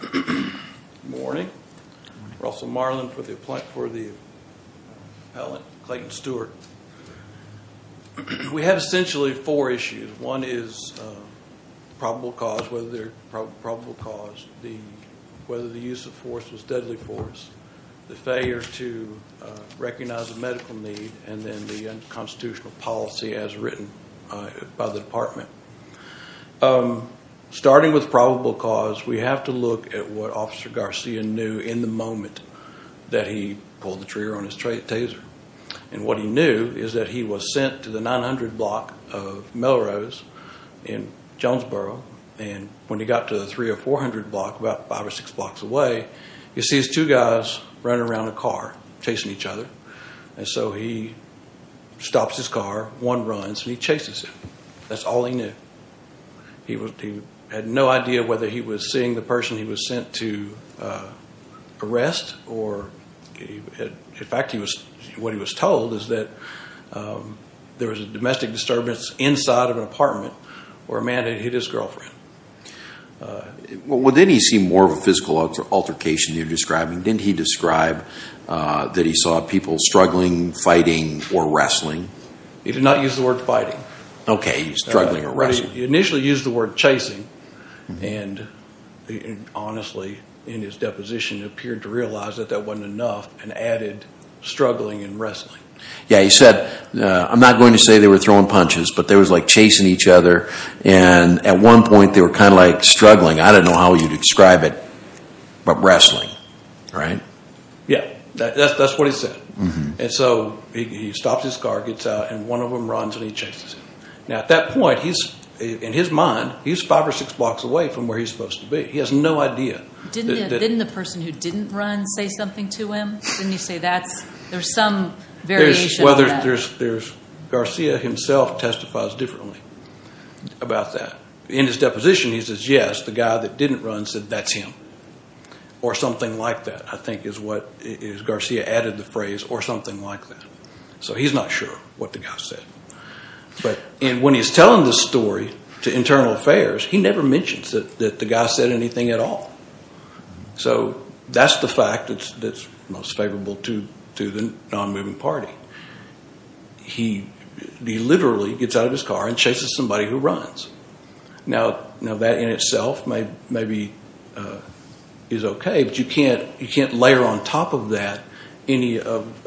Good morning, Russell Marlin for the appellate Clayton Stewart. We have essentially four issues. One is probable cause, whether the use of force was deadly force, the failure to recognize a medical need, and then the unconstitutional policy as written by the department. Starting with probable cause, we have to look at what Officer Garcia knew in the moment that he pulled the trigger on his Taser. And what he knew is that he was sent to the 900 block of Melrose in Jonesboro, and when he got to the 300 or 400 block, about five or six blocks away, he sees two guys running around a car, chasing each other. And so he stops his car, one runs, and he chases him. That's all he knew. He had no idea whether he was seeing the person he was sent to arrest, or in fact, what he was told is that there was a domestic disturbance inside of an apartment where a man had hit his girlfriend. Well, didn't he see more of a physical altercation you're describing? Didn't he describe that he saw people struggling, fighting, or wrestling? He did not use the word fighting. Okay, he was struggling or wrestling. He initially used the word chasing, and honestly, in his deposition, it appeared to realize that that wasn't enough, and added struggling and wrestling. Yeah, he said, I'm not going to say they were throwing punches, but they were like chasing each other, and at one point, they were kind of like struggling. I don't know how you'd describe it, but wrestling, right? Yeah, that's what he said. And so he stops his car, gets out, and one of them runs, and he chases him. Now, at that point, in his mind, he's five or six blocks away from where he's supposed to be. He has no idea. Didn't the person who didn't run say something to him? Didn't he say there's some variation? Well, Garcia himself testifies differently about that. In his deposition, he says, yes, the guy that didn't run said, that's him, or something like that, I think is what Garcia added the phrase, or something like that. So he's not sure what the guy said. And when he's telling this story to Internal Affairs, he never mentions that the guy said anything at all. So that's the fact that's most favorable to the non-moving party. He literally gets out of his car and chases somebody who runs. Now, that in itself maybe is okay, but you can't layer on top of that any of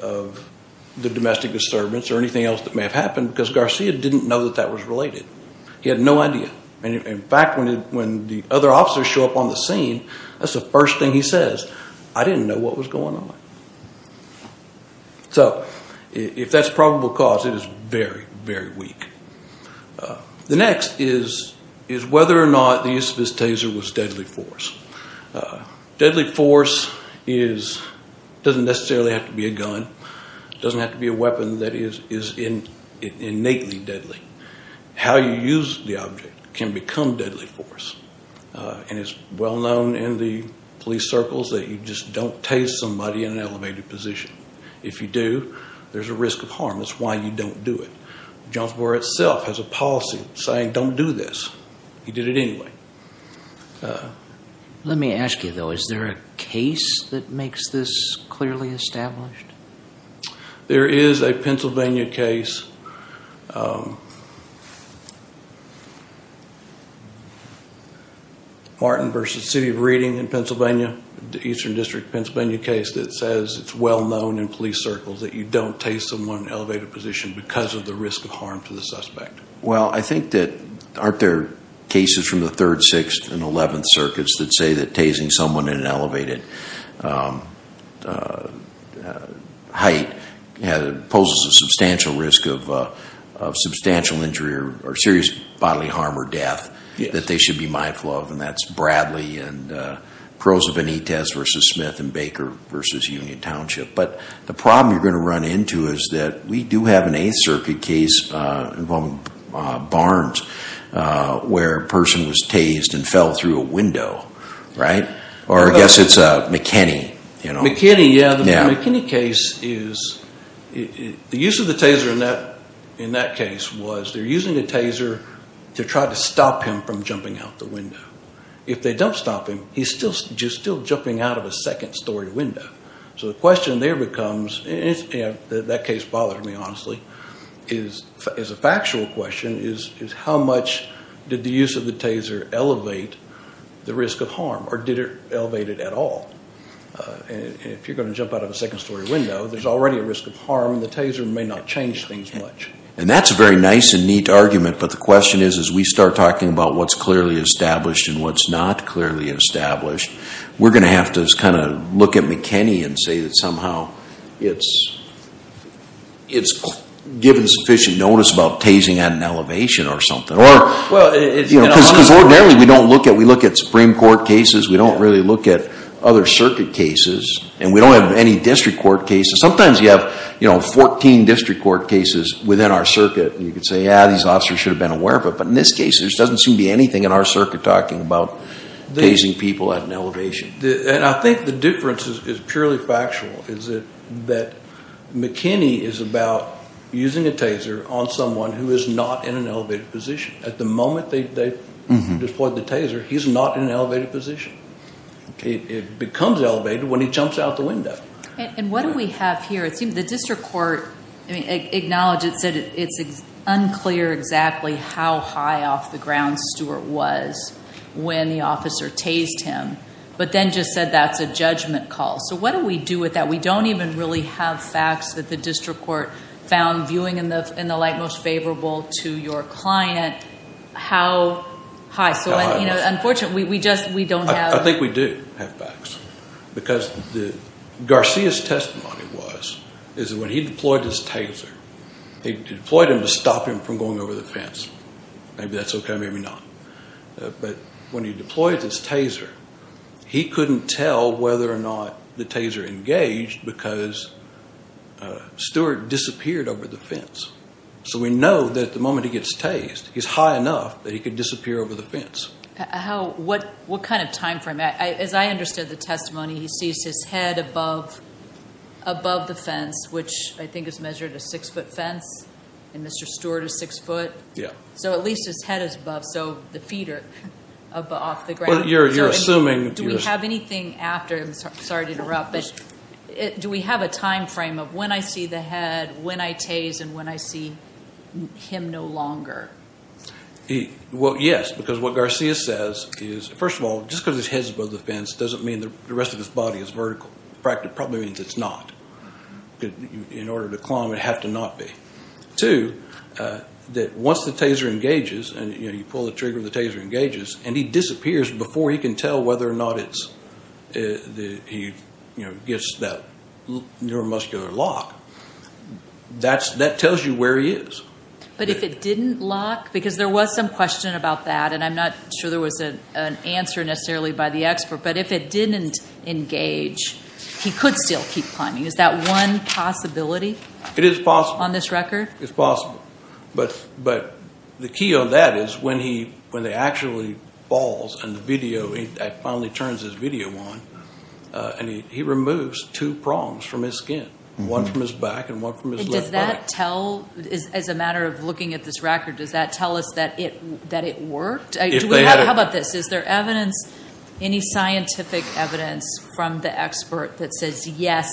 the domestic disturbance or anything else that may have happened, because Garcia didn't know that that was related. He had no idea. In fact, when the other officers show up on the scene, that's the first thing he says, I didn't know what was going on. So if that's probable cause, it is very, very weak. The next is whether or not the use of his taser was deadly force. Deadly force doesn't necessarily have to be a gun. It doesn't have to be a weapon that is innately deadly. How you use the object can become deadly force, and it's well-known in the police circles that you just don't tase somebody in an elevated position. If you do, there's a risk of harm. That's why you don't do it. Jonesboro itself has a policy saying don't do this. He did it anyway. Let me ask you, though. Is there a case that makes this clearly established? There is a Pennsylvania case, Martin v. City of Reading in Pennsylvania, the Eastern District Pennsylvania case, that says it's well-known in police circles that you don't tase someone in an elevated position because of the risk of harm to the suspect. Well, I think that aren't there cases from the Third, Sixth, and Eleventh Circuits that say that tasing someone in an elevated height poses a substantial risk of substantial injury or serious bodily harm or death that they should be mindful of, and that's Bradley and Perroza-Benitez v. Smith in Baker v. Union Township. But the problem you're going to run into is that we do have an Eighth Circuit case involving Barnes where a person was tased and fell through a window, right? Or I guess it's McKinney. McKinney, yeah. The McKinney case is, the use of the taser in that case was they're using the taser to try to stop him from jumping out the window. If they don't stop him, he's still jumping out of a second-story window. So the question there becomes, and that case bothered me, honestly, is a factual question is how much did the use of the taser elevate the risk of harm, or did it elevate it at all? If you're going to jump out of a second-story window, there's already a risk of harm, and the taser may not change things much. And that's a very nice and neat argument, but the question is as we start talking about what's clearly established and what's not clearly established, we're going to have to look at McKinney and say that somehow it's given sufficient notice about tasing at an elevation or something. Because ordinarily we look at Supreme Court cases, we don't really look at other circuit cases, and we don't have any district court cases. Sometimes you have 14 district court cases within our circuit, and you can say, yeah, these officers should have been aware of it. We're talking about tasing people at an elevation. And I think the difference is purely factual, is that McKinney is about using a taser on someone who is not in an elevated position. At the moment they've deployed the taser, he's not in an elevated position. It becomes elevated when he jumps out the window. And what do we have here? The district court acknowledged it, said it's unclear exactly how high off the ground Stuart was when the officer tased him, but then just said that's a judgment call. So what do we do with that? We don't even really have facts that the district court found viewing in the light most favorable to your client how high. So, you know, unfortunately we just don't have. I think we do have facts. Because Garcia's testimony was that when he deployed his taser, they deployed him to stop him from going over the fence. Maybe that's okay, maybe not. But when he deployed his taser, he couldn't tell whether or not the taser engaged because Stuart disappeared over the fence. So we know that the moment he gets tased, he's high enough that he could disappear over the fence. What kind of time frame? As I understood the testimony, he sees his head above the fence, which I think is measured a six-foot fence, and Mr. Stuart is six foot. So at least his head is above, so the feet are off the ground. You're assuming. Do we have anything after? Sorry to interrupt, but do we have a time frame of when I see the head, when I tase, and when I see him no longer? Well, yes, because what Garcia says is, first of all, just because his head's above the fence doesn't mean the rest of his body is vertical. In fact, it probably means it's not. In order to climb, it'd have to not be. Two, that once the taser engages and you pull the trigger and the taser engages and he disappears before he can tell whether or not he gets that neuromuscular lock, that tells you where he is. But if it didn't lock, because there was some question about that, and I'm not sure there was an answer necessarily by the expert, but if it didn't engage, he could still keep climbing. Is that one possibility on this record? It is possible. It's possible. But the key on that is when he actually falls and the video, that finally turns his video on, and he removes two prongs from his skin, one from his back and one from his left body. As a matter of looking at this record, does that tell us that it worked? How about this? Is there any scientific evidence from the expert that says, yes,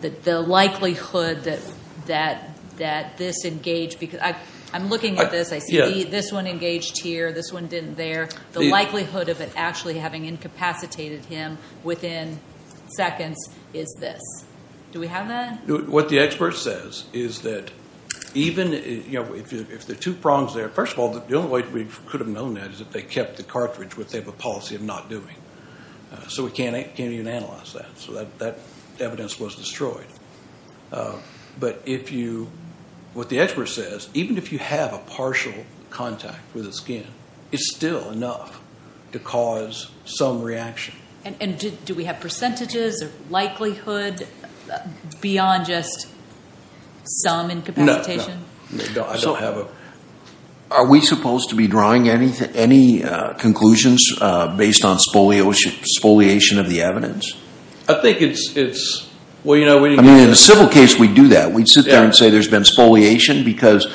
the likelihood that this engaged because I'm looking at this. I see this one engaged here, this one didn't there. The likelihood of it actually having incapacitated him within seconds is this. Do we have that? What the expert says is that even if the two prongs there, first of all, the only way we could have known that is if they kept the cartridge, which they have a policy of not doing. So we can't even analyze that. So that evidence was destroyed. But what the expert says, even if you have a partial contact with the skin, it's still enough to cause some reaction. Do we have percentages of likelihood beyond just some incapacitation? No. Are we supposed to be drawing any conclusions based on spoliation of the evidence? I think it's – In a civil case, we do that. We'd sit there and say there's been spoliation because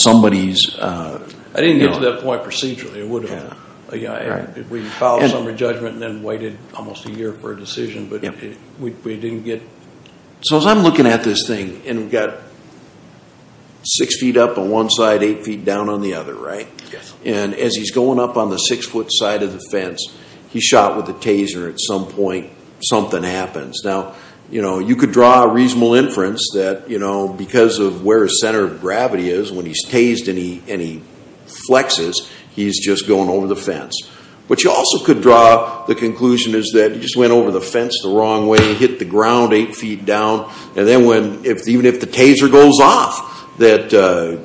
somebody's – I didn't get to that point procedurally. We followed some of the judgment and then waited almost a year for a decision. But we didn't get – So as I'm looking at this thing, and we've got six feet up on one side, eight feet down on the other, right? Yes. And as he's going up on the six-foot side of the fence, he's shot with a taser at some point, something happens. Now, you could draw a reasonable inference that because of where his center of gravity is, when he's tased and he flexes, he's just going over the fence. But you also could draw the conclusion is that he just went over the fence the wrong way, hit the ground eight feet down, and then when – even if the taser goes off, that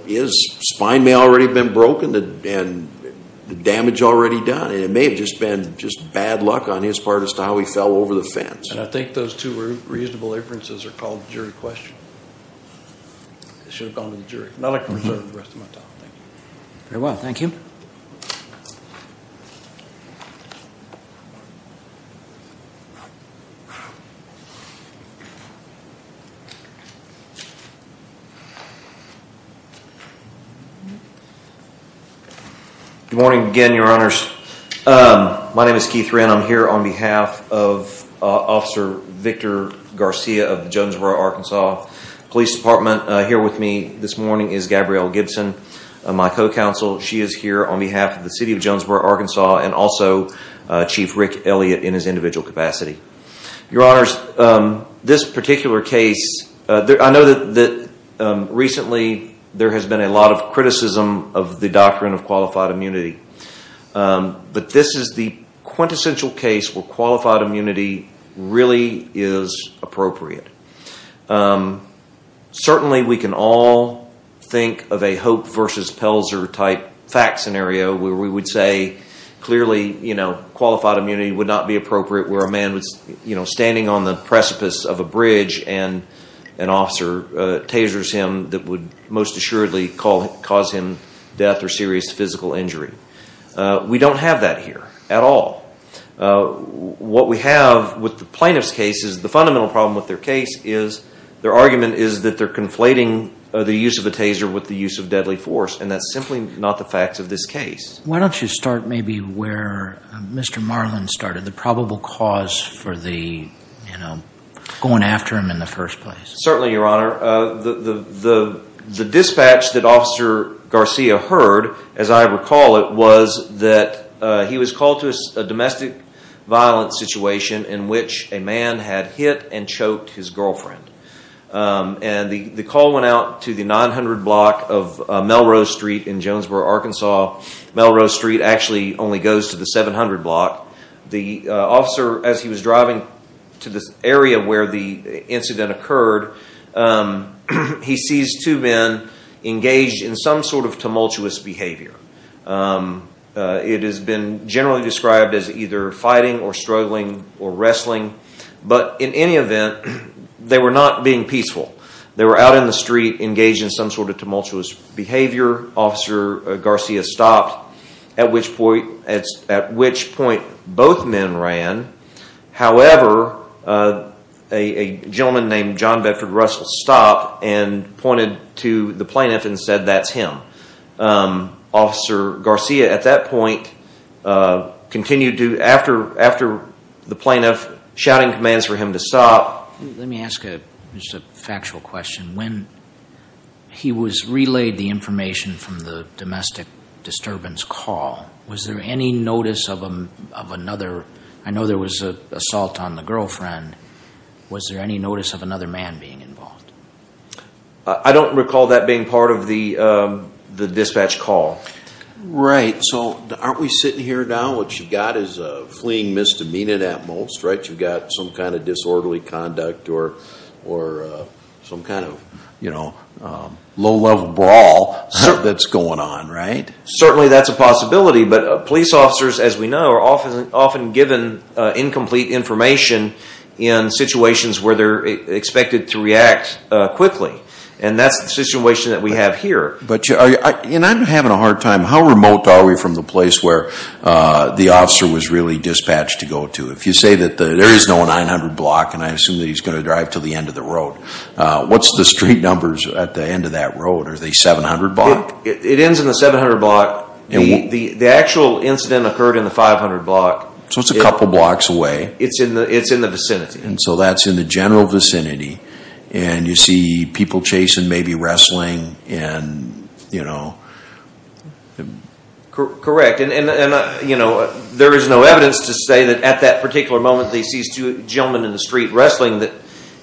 his spine may already have been broken and the damage already done, and it may have just been just bad luck on his part as to how he fell over the fence. And I think those two reasonable inferences are called jury questions. I should have gone to the jury. Now I can reserve the rest of my time. Very well. Thank you. Good morning again, Your Honors. My name is Keith Wren. I'm here on behalf of Officer Victor Garcia of the Jonesboro, Arkansas, Police Department. Here with me this morning is Gabrielle Gibson, my co-counsel. She is here on behalf of the city of Jonesboro, Arkansas, and also Chief Rick Elliott in his individual capacity. Your Honors, this particular case – I know that recently there has been a lot of criticism of the doctrine of qualified immunity. But this is the quintessential case where qualified immunity really is appropriate. Certainly we can all think of a Hope versus Pelzer type fact scenario where we would say clearly qualified immunity would not be appropriate where a man was standing on the precipice of a bridge and an officer tasers him that would most assuredly cause him death or serious physical injury. We don't have that here at all. What we have with the plaintiff's case is the fundamental problem with their case is their argument is that they're conflating the use of a taser with the use of deadly force, and that's simply not the facts of this case. Why don't you start maybe where Mr. Marlin started, the probable cause for going after him in the first place. Certainly, Your Honor. The dispatch that Officer Garcia heard, as I recall it, was that he was called to a domestic violence situation in which a man had hit and choked his girlfriend. And the call went out to the 900 block of Melrose Street in Jonesboro, Arkansas. Melrose Street actually only goes to the 700 block. The officer, as he was driving to this area where the incident occurred, he sees two men engaged in some sort of tumultuous behavior. It has been generally described as either fighting or struggling or wrestling. But in any event, they were not being peaceful. They were out in the street engaged in some sort of tumultuous behavior. Officer Garcia stopped, at which point both men ran. However, a gentleman named John Bedford Russell stopped and pointed to the plaintiff and said, that's him. Officer Garcia at that point continued to, after the plaintiff, shouting commands for him to stop. Let me ask a factual question. When he was relayed the information from the domestic disturbance call, was there any notice of another? I know there was an assault on the girlfriend. Was there any notice of another man being involved? I don't recall that being part of the dispatch call. Right. So aren't we sitting here now, what you've got is a fleeing misdemeanor at most, right? You've got some kind of disorderly conduct or some kind of low-level brawl that's going on, right? Certainly that's a possibility, but police officers, as we know, are often given incomplete information in situations where they're expected to react quickly. And that's the situation that we have here. I'm having a hard time. How remote are we from the place where the officer was really dispatched to go to? If you say that there is no 900 block, and I assume that he's going to drive to the end of the road, what's the street numbers at the end of that road? Are they 700 block? It ends in the 700 block. The actual incident occurred in the 500 block. So it's a couple blocks away. It's in the vicinity. And so that's in the general vicinity. And you see people chasing, maybe wrestling and, you know. Correct. And, you know, there is no evidence to say that at that particular moment that he sees two gentlemen in the street wrestling that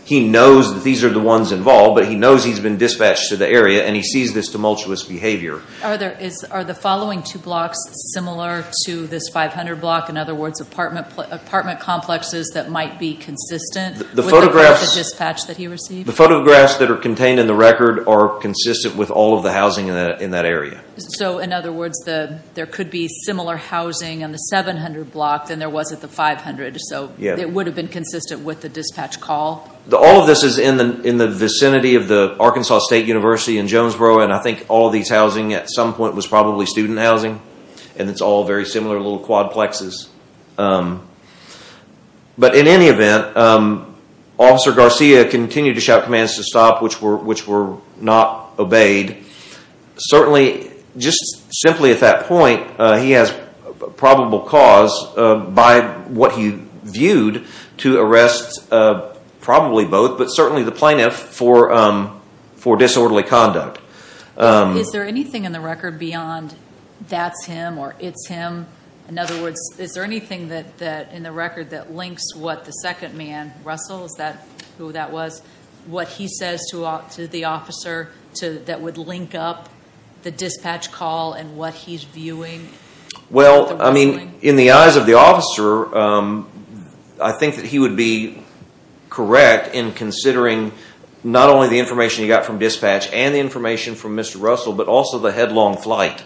he knows that these are the ones involved, but he knows he's been dispatched to the area and he sees this tumultuous behavior. Are the following two blocks similar to this 500 block? In other words, apartment complexes that might be consistent with the dispatch that he received? The photographs that are contained in the record are consistent with all of the housing in that area. So, in other words, there could be similar housing in the 700 block than there was at the 500. So it would have been consistent with the dispatch call? All of this is in the vicinity of the Arkansas State University in Jonesboro, and I think all of these housing at some point was probably student housing, and it's all very similar little quadplexes. But in any event, Officer Garcia continued to shout commands to stop, which were not obeyed. Certainly, just simply at that point, he has probable cause by what he viewed to arrest probably both, but certainly the plaintiff for disorderly conduct. Is there anything in the record beyond that's him or it's him? In other words, is there anything in the record that links what the second man wrestles, who that was, what he says to the officer that would link up the dispatch call and what he's viewing? Well, I mean, in the eyes of the officer, I think that he would be correct in considering not only the information he got from dispatch and the information from Mr. Russell, but also the headlong flight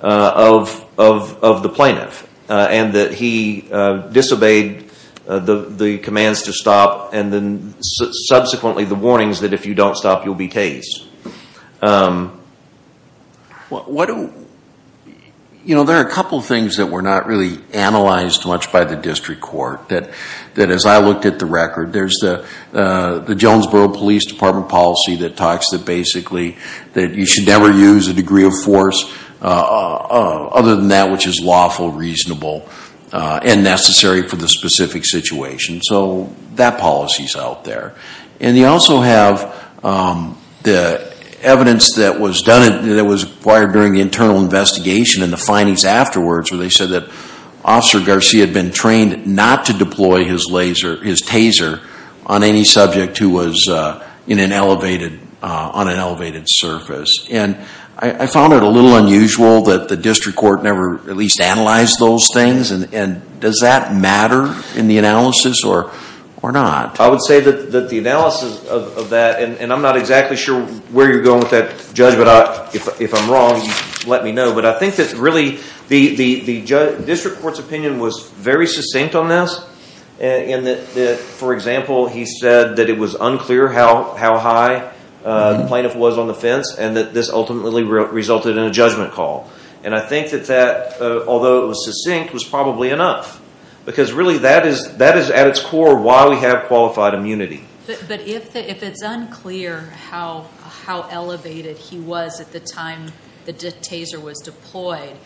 of the plaintiff, and that he disobeyed the commands to stop, and then subsequently the warnings that if you don't stop, you'll be tased. You know, there are a couple of things that were not really analyzed much by the district court, that as I looked at the record, there's the Jonesboro Police Department policy that talks that basically that you should never use a degree of force other than that which is lawful, reasonable, and necessary for the specific situation. So that policy's out there. And you also have the evidence that was acquired during the internal investigation and the findings afterwards where they said that Officer Garcia had been trained not to deploy his taser on any subject who was on an elevated surface. And I found it a little unusual that the district court never at least analyzed those things, and does that matter in the analysis or not? I would say that the analysis of that, and I'm not exactly sure where you're going with that, Judge, but if I'm wrong, let me know. But I think that really the district court's opinion was very succinct on this, in that, for example, he said that it was unclear how high the plaintiff was on the fence and that this ultimately resulted in a judgment call. And I think that that, although it was succinct, was probably enough, because really that is at its core why we have qualified immunity. But if it's unclear how elevated he was at the time the taser was deployed,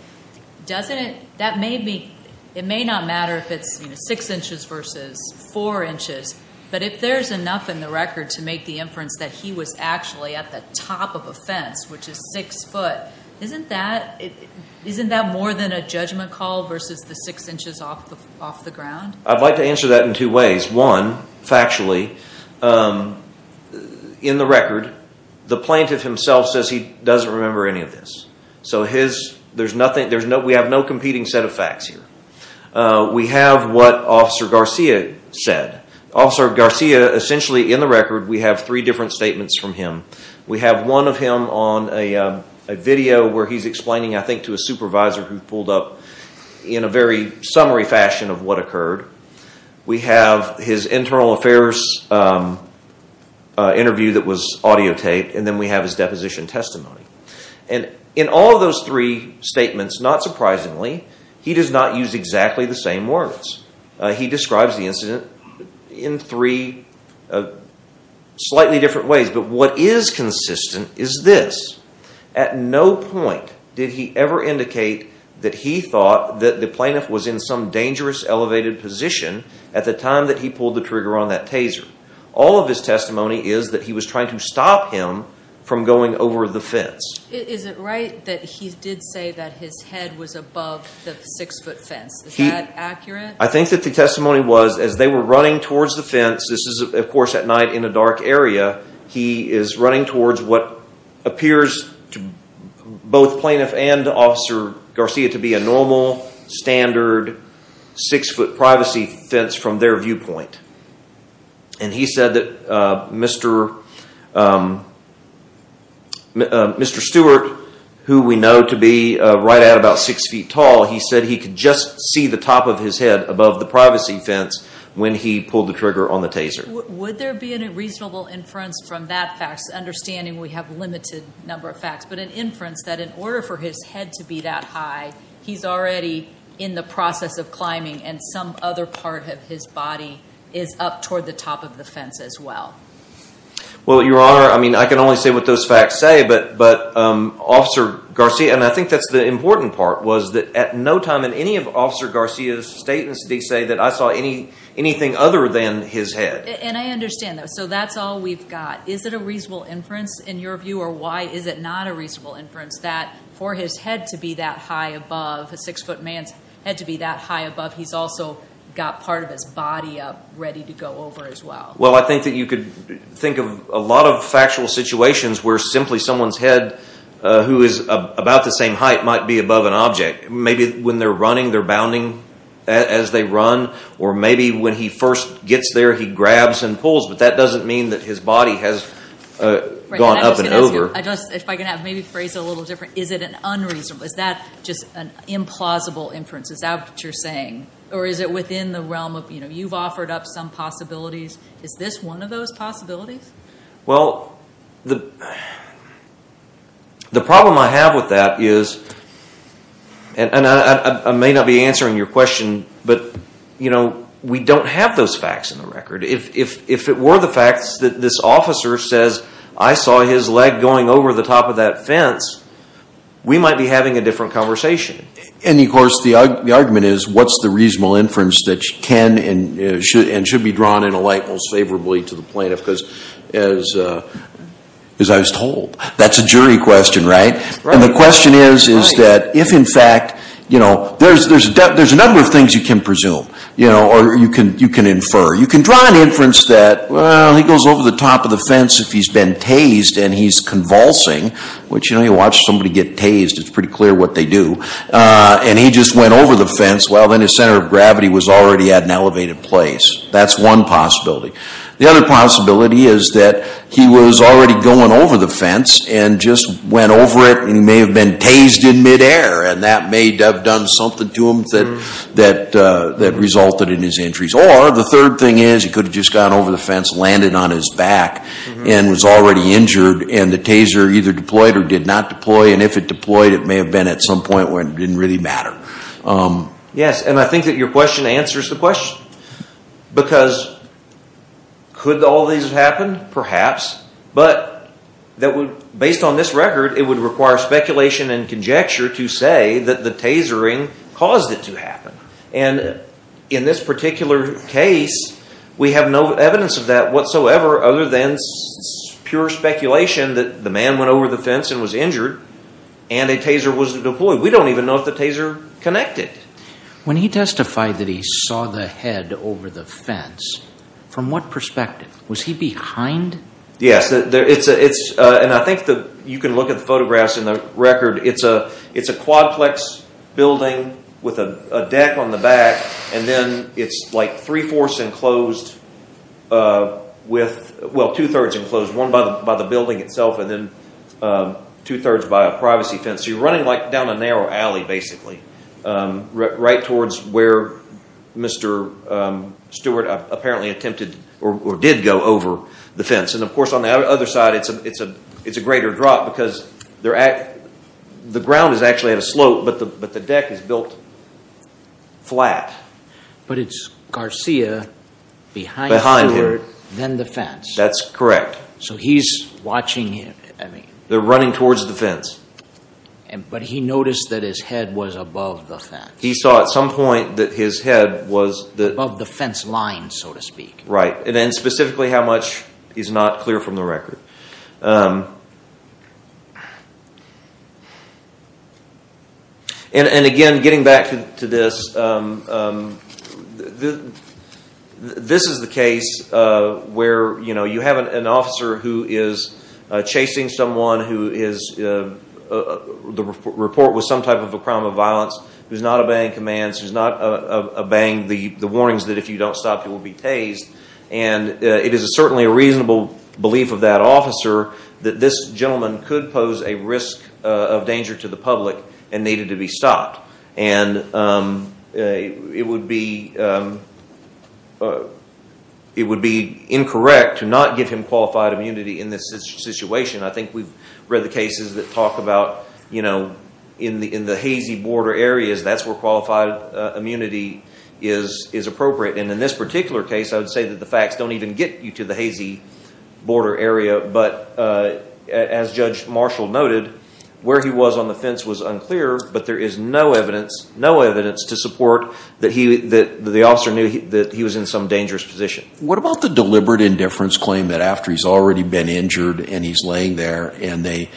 it may not matter if it's six inches versus four inches, but if there's enough in the record to make the inference that he was actually at the top of a fence, which is six foot, isn't that more than a judgment call versus the six inches off the ground? I'd like to answer that in two ways. One, factually, in the record, the plaintiff himself says he doesn't remember any of this. So we have no competing set of facts here. We have what Officer Garcia said. Officer Garcia, essentially, in the record, we have three different statements from him. We have one of him on a video where he's explaining, I think, to a supervisor who pulled up in a very summary fashion of what occurred. We have his internal affairs interview that was audiotaped, and then we have his deposition testimony. And in all of those three statements, not surprisingly, he does not use exactly the same words. He describes the incident in three slightly different ways. But what is consistent is this. At no point did he ever indicate that he thought that the plaintiff was in some dangerous elevated position at the time that he pulled the trigger on that taser. All of his testimony is that he was trying to stop him from going over the fence. Is it right that he did say that his head was above the six-foot fence? Is that accurate? I think that the testimony was, as they were running towards the fence, this is, of course, at night in a dark area, he is running towards what appears to both plaintiff and Officer Garcia to be a normal, standard six-foot privacy fence from their viewpoint. And he said that Mr. Stewart, who we know to be right at about six feet tall, he said he could just see the top of his head above the privacy fence when he pulled the trigger on the taser. Would there be a reasonable inference from that fact, understanding we have a limited number of facts, but an inference that in order for his head to be that high, he's already in the process of climbing and some other part of his body is up toward the top of the fence as well? Well, Your Honor, I mean, I can only say what those facts say, but Officer Garcia, and I think that's the important part, was that at no time in any of Officer Garcia's statements did he say that I saw anything other than his head. And I understand that. So that's all we've got. Is it a reasonable inference, in your view, or why is it not a reasonable inference that for his head to be that high above, a six-foot man's head to be that high above, he's also got part of his body up ready to go over as well? Well, I think that you could think of a lot of factual situations where simply someone's head, who is about the same height, might be above an object. Maybe when they're running, they're bounding as they run, or maybe when he first gets there, he grabs and pulls, but that doesn't mean that his body has gone up and over. If I could maybe phrase it a little different. Is it unreasonable? Is that just an implausible inference? Is that what you're saying? Or is it within the realm of, you know, you've offered up some possibilities. Is this one of those possibilities? Well, the problem I have with that is, and I may not be answering your question, but we don't have those facts in the record. If it were the fact that this officer says, I saw his leg going over the top of that fence, we might be having a different conversation. And, of course, the argument is, what's the reasonable inference that can and should be drawn in a light most favorably to the plaintiff? Because, as I was told, that's a jury question, right? Right. And the question is, is that if in fact, you know, there's a number of things you can presume, you know, or you can infer. You can draw an inference that, well, he goes over the top of the fence if he's been tased and he's convulsing, which, you know, you watch somebody get tased. It's pretty clear what they do. And he just went over the fence. Well, then his center of gravity was already at an elevated place. That's one possibility. The other possibility is that he was already going over the fence and just went over it and may have been tased in midair. And that may have done something to him that resulted in his injuries. Or the third thing is he could have just gone over the fence, landed on his back, and was already injured, and the taser either deployed or did not deploy. And if it deployed, it may have been at some point where it didn't really matter. Yes, and I think that your question answers the question. Because could all these have happened? Perhaps. But based on this record, it would require speculation and conjecture to say that the tasering caused it to happen. And in this particular case, we have no evidence of that whatsoever other than pure speculation that the man went over the fence and was injured and a taser was deployed. We don't even know if the taser connected. When he testified that he saw the head over the fence, from what perspective? Was he behind? Yes, and I think you can look at the photographs in the record. It's a quadplex building with a deck on the back, and then it's like three-fourths enclosed with, well, two-thirds enclosed, one by the building itself and then two-thirds by a privacy fence. So you're running down a narrow alley, basically, right towards where Mr. Stewart apparently attempted or did go over the fence. And, of course, on the other side, it's a greater drop because the ground is actually at a slope, but the deck is built flat. But it's Garcia behind Stewart, then the fence. That's correct. So he's watching him. They're running towards the fence. But he noticed that his head was above the fence. He saw at some point that his head was the... Above the fence line, so to speak. Right, and then specifically how much is not clear from the record. And, again, getting back to this, this is the case where you have an officer who is chasing someone who is... The report was some type of a crime of violence, who's not obeying commands, who's not obeying the warnings that if you don't stop, you will be tased. And it is certainly a reasonable belief of that officer that this gentleman could pose a risk of danger to the public and needed to be stopped. And it would be incorrect to not give him qualified immunity in this situation. I think we've read the cases that talk about, you know, in the hazy border areas, that's where qualified immunity is appropriate. And in this particular case, I would say that the facts don't even get you to the hazy border area but, as Judge Marshall noted, where he was on the fence was unclear but there is no evidence to support that the officer knew that he was in some dangerous position. What about the deliberate indifference claim that after he's already been injured and he's laying there and the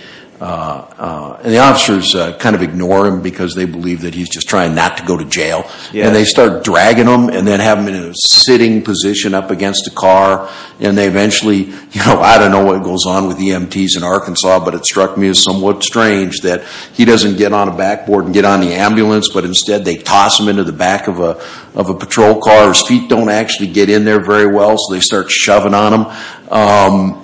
officers kind of ignore him because they believe that he's just trying not to go to jail and they start dragging him and then have him in a sitting position up against a car and they eventually, you know, I don't know what goes on with EMTs in Arkansas but it struck me as somewhat strange that he doesn't get on a backboard and get on the ambulance but instead they toss him into the back of a patrol car. His feet don't actually get in there very well so they start shoving on him.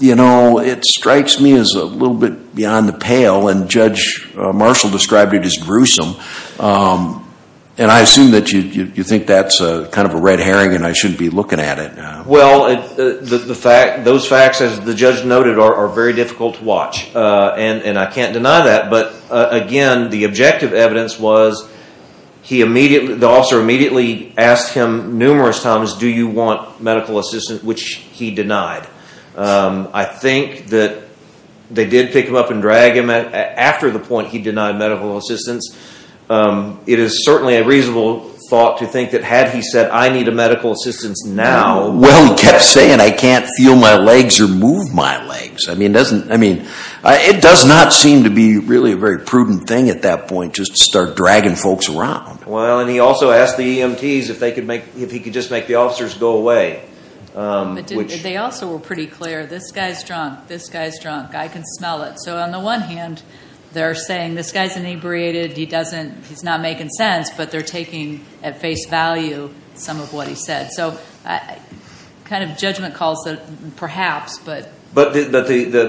You know, it strikes me as a little bit beyond the pale and Judge Marshall described it as gruesome and I assume that you think that's kind of a red herring and I shouldn't be looking at it. Well, those facts, as the judge noted, are very difficult to watch and I can't deny that but again, the objective evidence was the officer immediately asked him numerous times do you want medical assistance, which he denied. I think that they did pick him up and drag him after the point he denied medical assistance. It is certainly a reasonable thought to think that had he said I need medical assistance now... Well, he kept saying I can't feel my legs or move my legs. I mean, it does not seem to be really a very prudent thing at that point just to start dragging folks around. Well, and he also asked the EMTs if he could just make the officers go away. They also were pretty clear, this guy's drunk, this guy's drunk, I can smell it. So on the one hand they're saying this guy's inebriated, he's not making sense but they're taking at face value some of what he said. So kind of judgment calls, perhaps, but... But the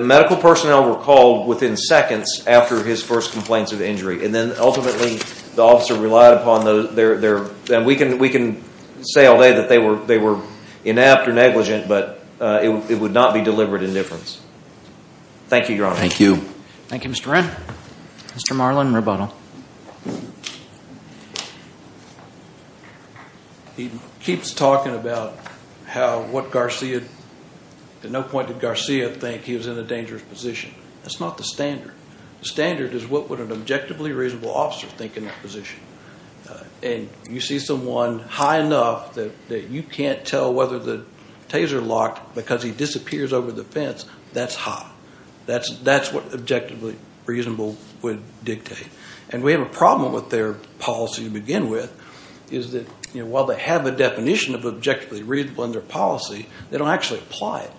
medical personnel were called within seconds after his first complaints of injury and then ultimately the officer relied upon their... We can say all day that they were inept or negligent but it would not be deliberate indifference. Thank you, Your Honor. Thank you. Thank you, Mr. Redd. Mr. Marlin, rebuttal. He keeps talking about how what Garcia... At no point did Garcia think he was in a dangerous position. That's not the standard. The standard is what would an objectively reasonable officer think in that position. And you see someone high enough that you can't tell whether the taser locked because he disappears over the fence, that's high. That's what objectively reasonable would dictate. And we have a problem with their policy to begin with is that while they have a definition of objectively reasonable in their policy, they don't actually apply it.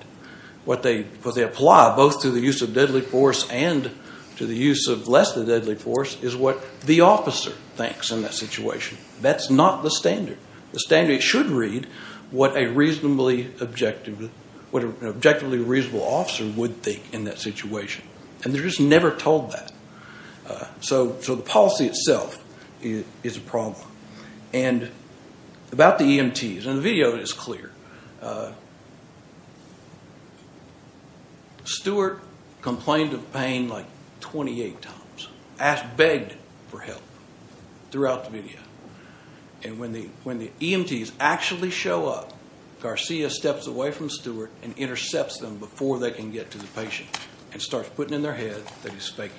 What they apply both to the use of deadly force and to the use of less than deadly force is what the officer thinks in that situation. That's not the standard. The standard should read what an objectively reasonable officer would think in that situation. And they're just never told that. So the policy itself is a problem. And about the EMTs, and the video is clear. Stewart complained of pain like 28 times, begged for help throughout the video. And when the EMTs actually show up, Garcia steps away from Stewart and intercepts them before they can get to the patient and starts putting in their head that he's faking.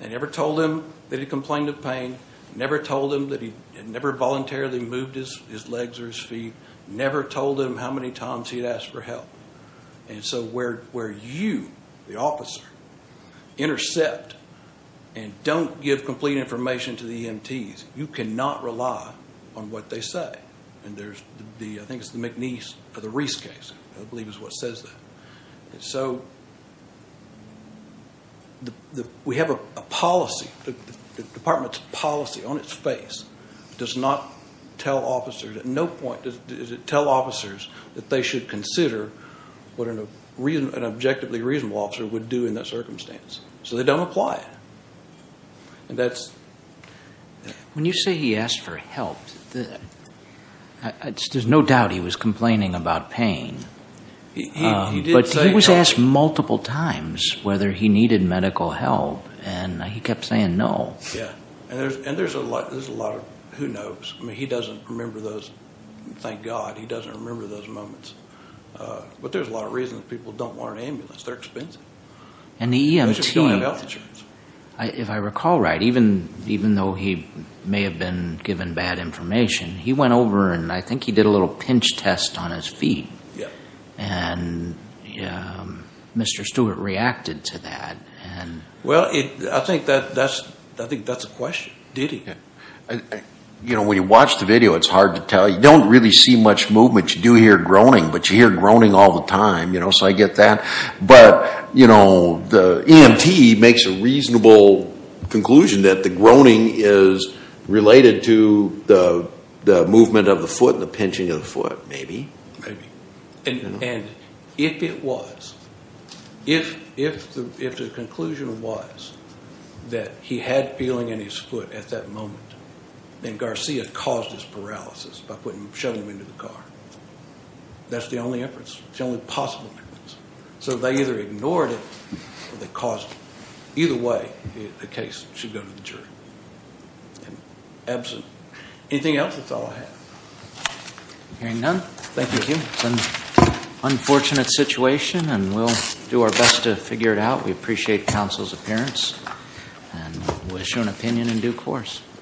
They never told him that he complained of pain, never told him that he had never voluntarily moved his legs or his feet, never told him how many times he'd asked for help. And so where you, the officer, intercept and don't give complete information to the EMTs, you cannot rely on what they say. And there's the, I think it's the McNeese or the Reese case, I believe is what says that. And so we have a policy, the department's policy on its face does not tell officers, at no point does it tell officers that they should consider what an objectively reasonable officer would do in that circumstance. So they don't apply it. And that's... When you say he asked for help, there's no doubt he was complaining about pain. But he was asked multiple times whether he needed medical help and he kept saying no. Yeah, and there's a lot of who knows. I mean, he doesn't remember those, thank God, he doesn't remember those moments. But there's a lot of reasons people don't want an ambulance, they're expensive. And the EMT, if I recall right, even though he may have been given bad information, he went over and I think he did a little pinch test on his feet. And Mr. Stewart reacted to that. Well, I think that's a question. Did he? When you watch the video, it's hard to tell. You don't really see much movement. You do hear groaning, but you hear groaning all the time, so I get that. But, you know, the EMT makes a reasonable conclusion that the groaning is related to the movement of the foot and the pinching of the foot, maybe. Maybe. And if it was, if the conclusion was that he had feeling in his foot at that moment, then Garcia caused his paralysis by putting a shovel into the car. That's the only inference, the only possible inference. So they either ignored it or they caused it. Either way, the case should go to the jury. Absent. Anything else, that's all I have. Hearing none. Thank you. It's an unfortunate situation and we'll do our best to figure it out. We appreciate counsel's appearance and we'll issue an opinion in due course.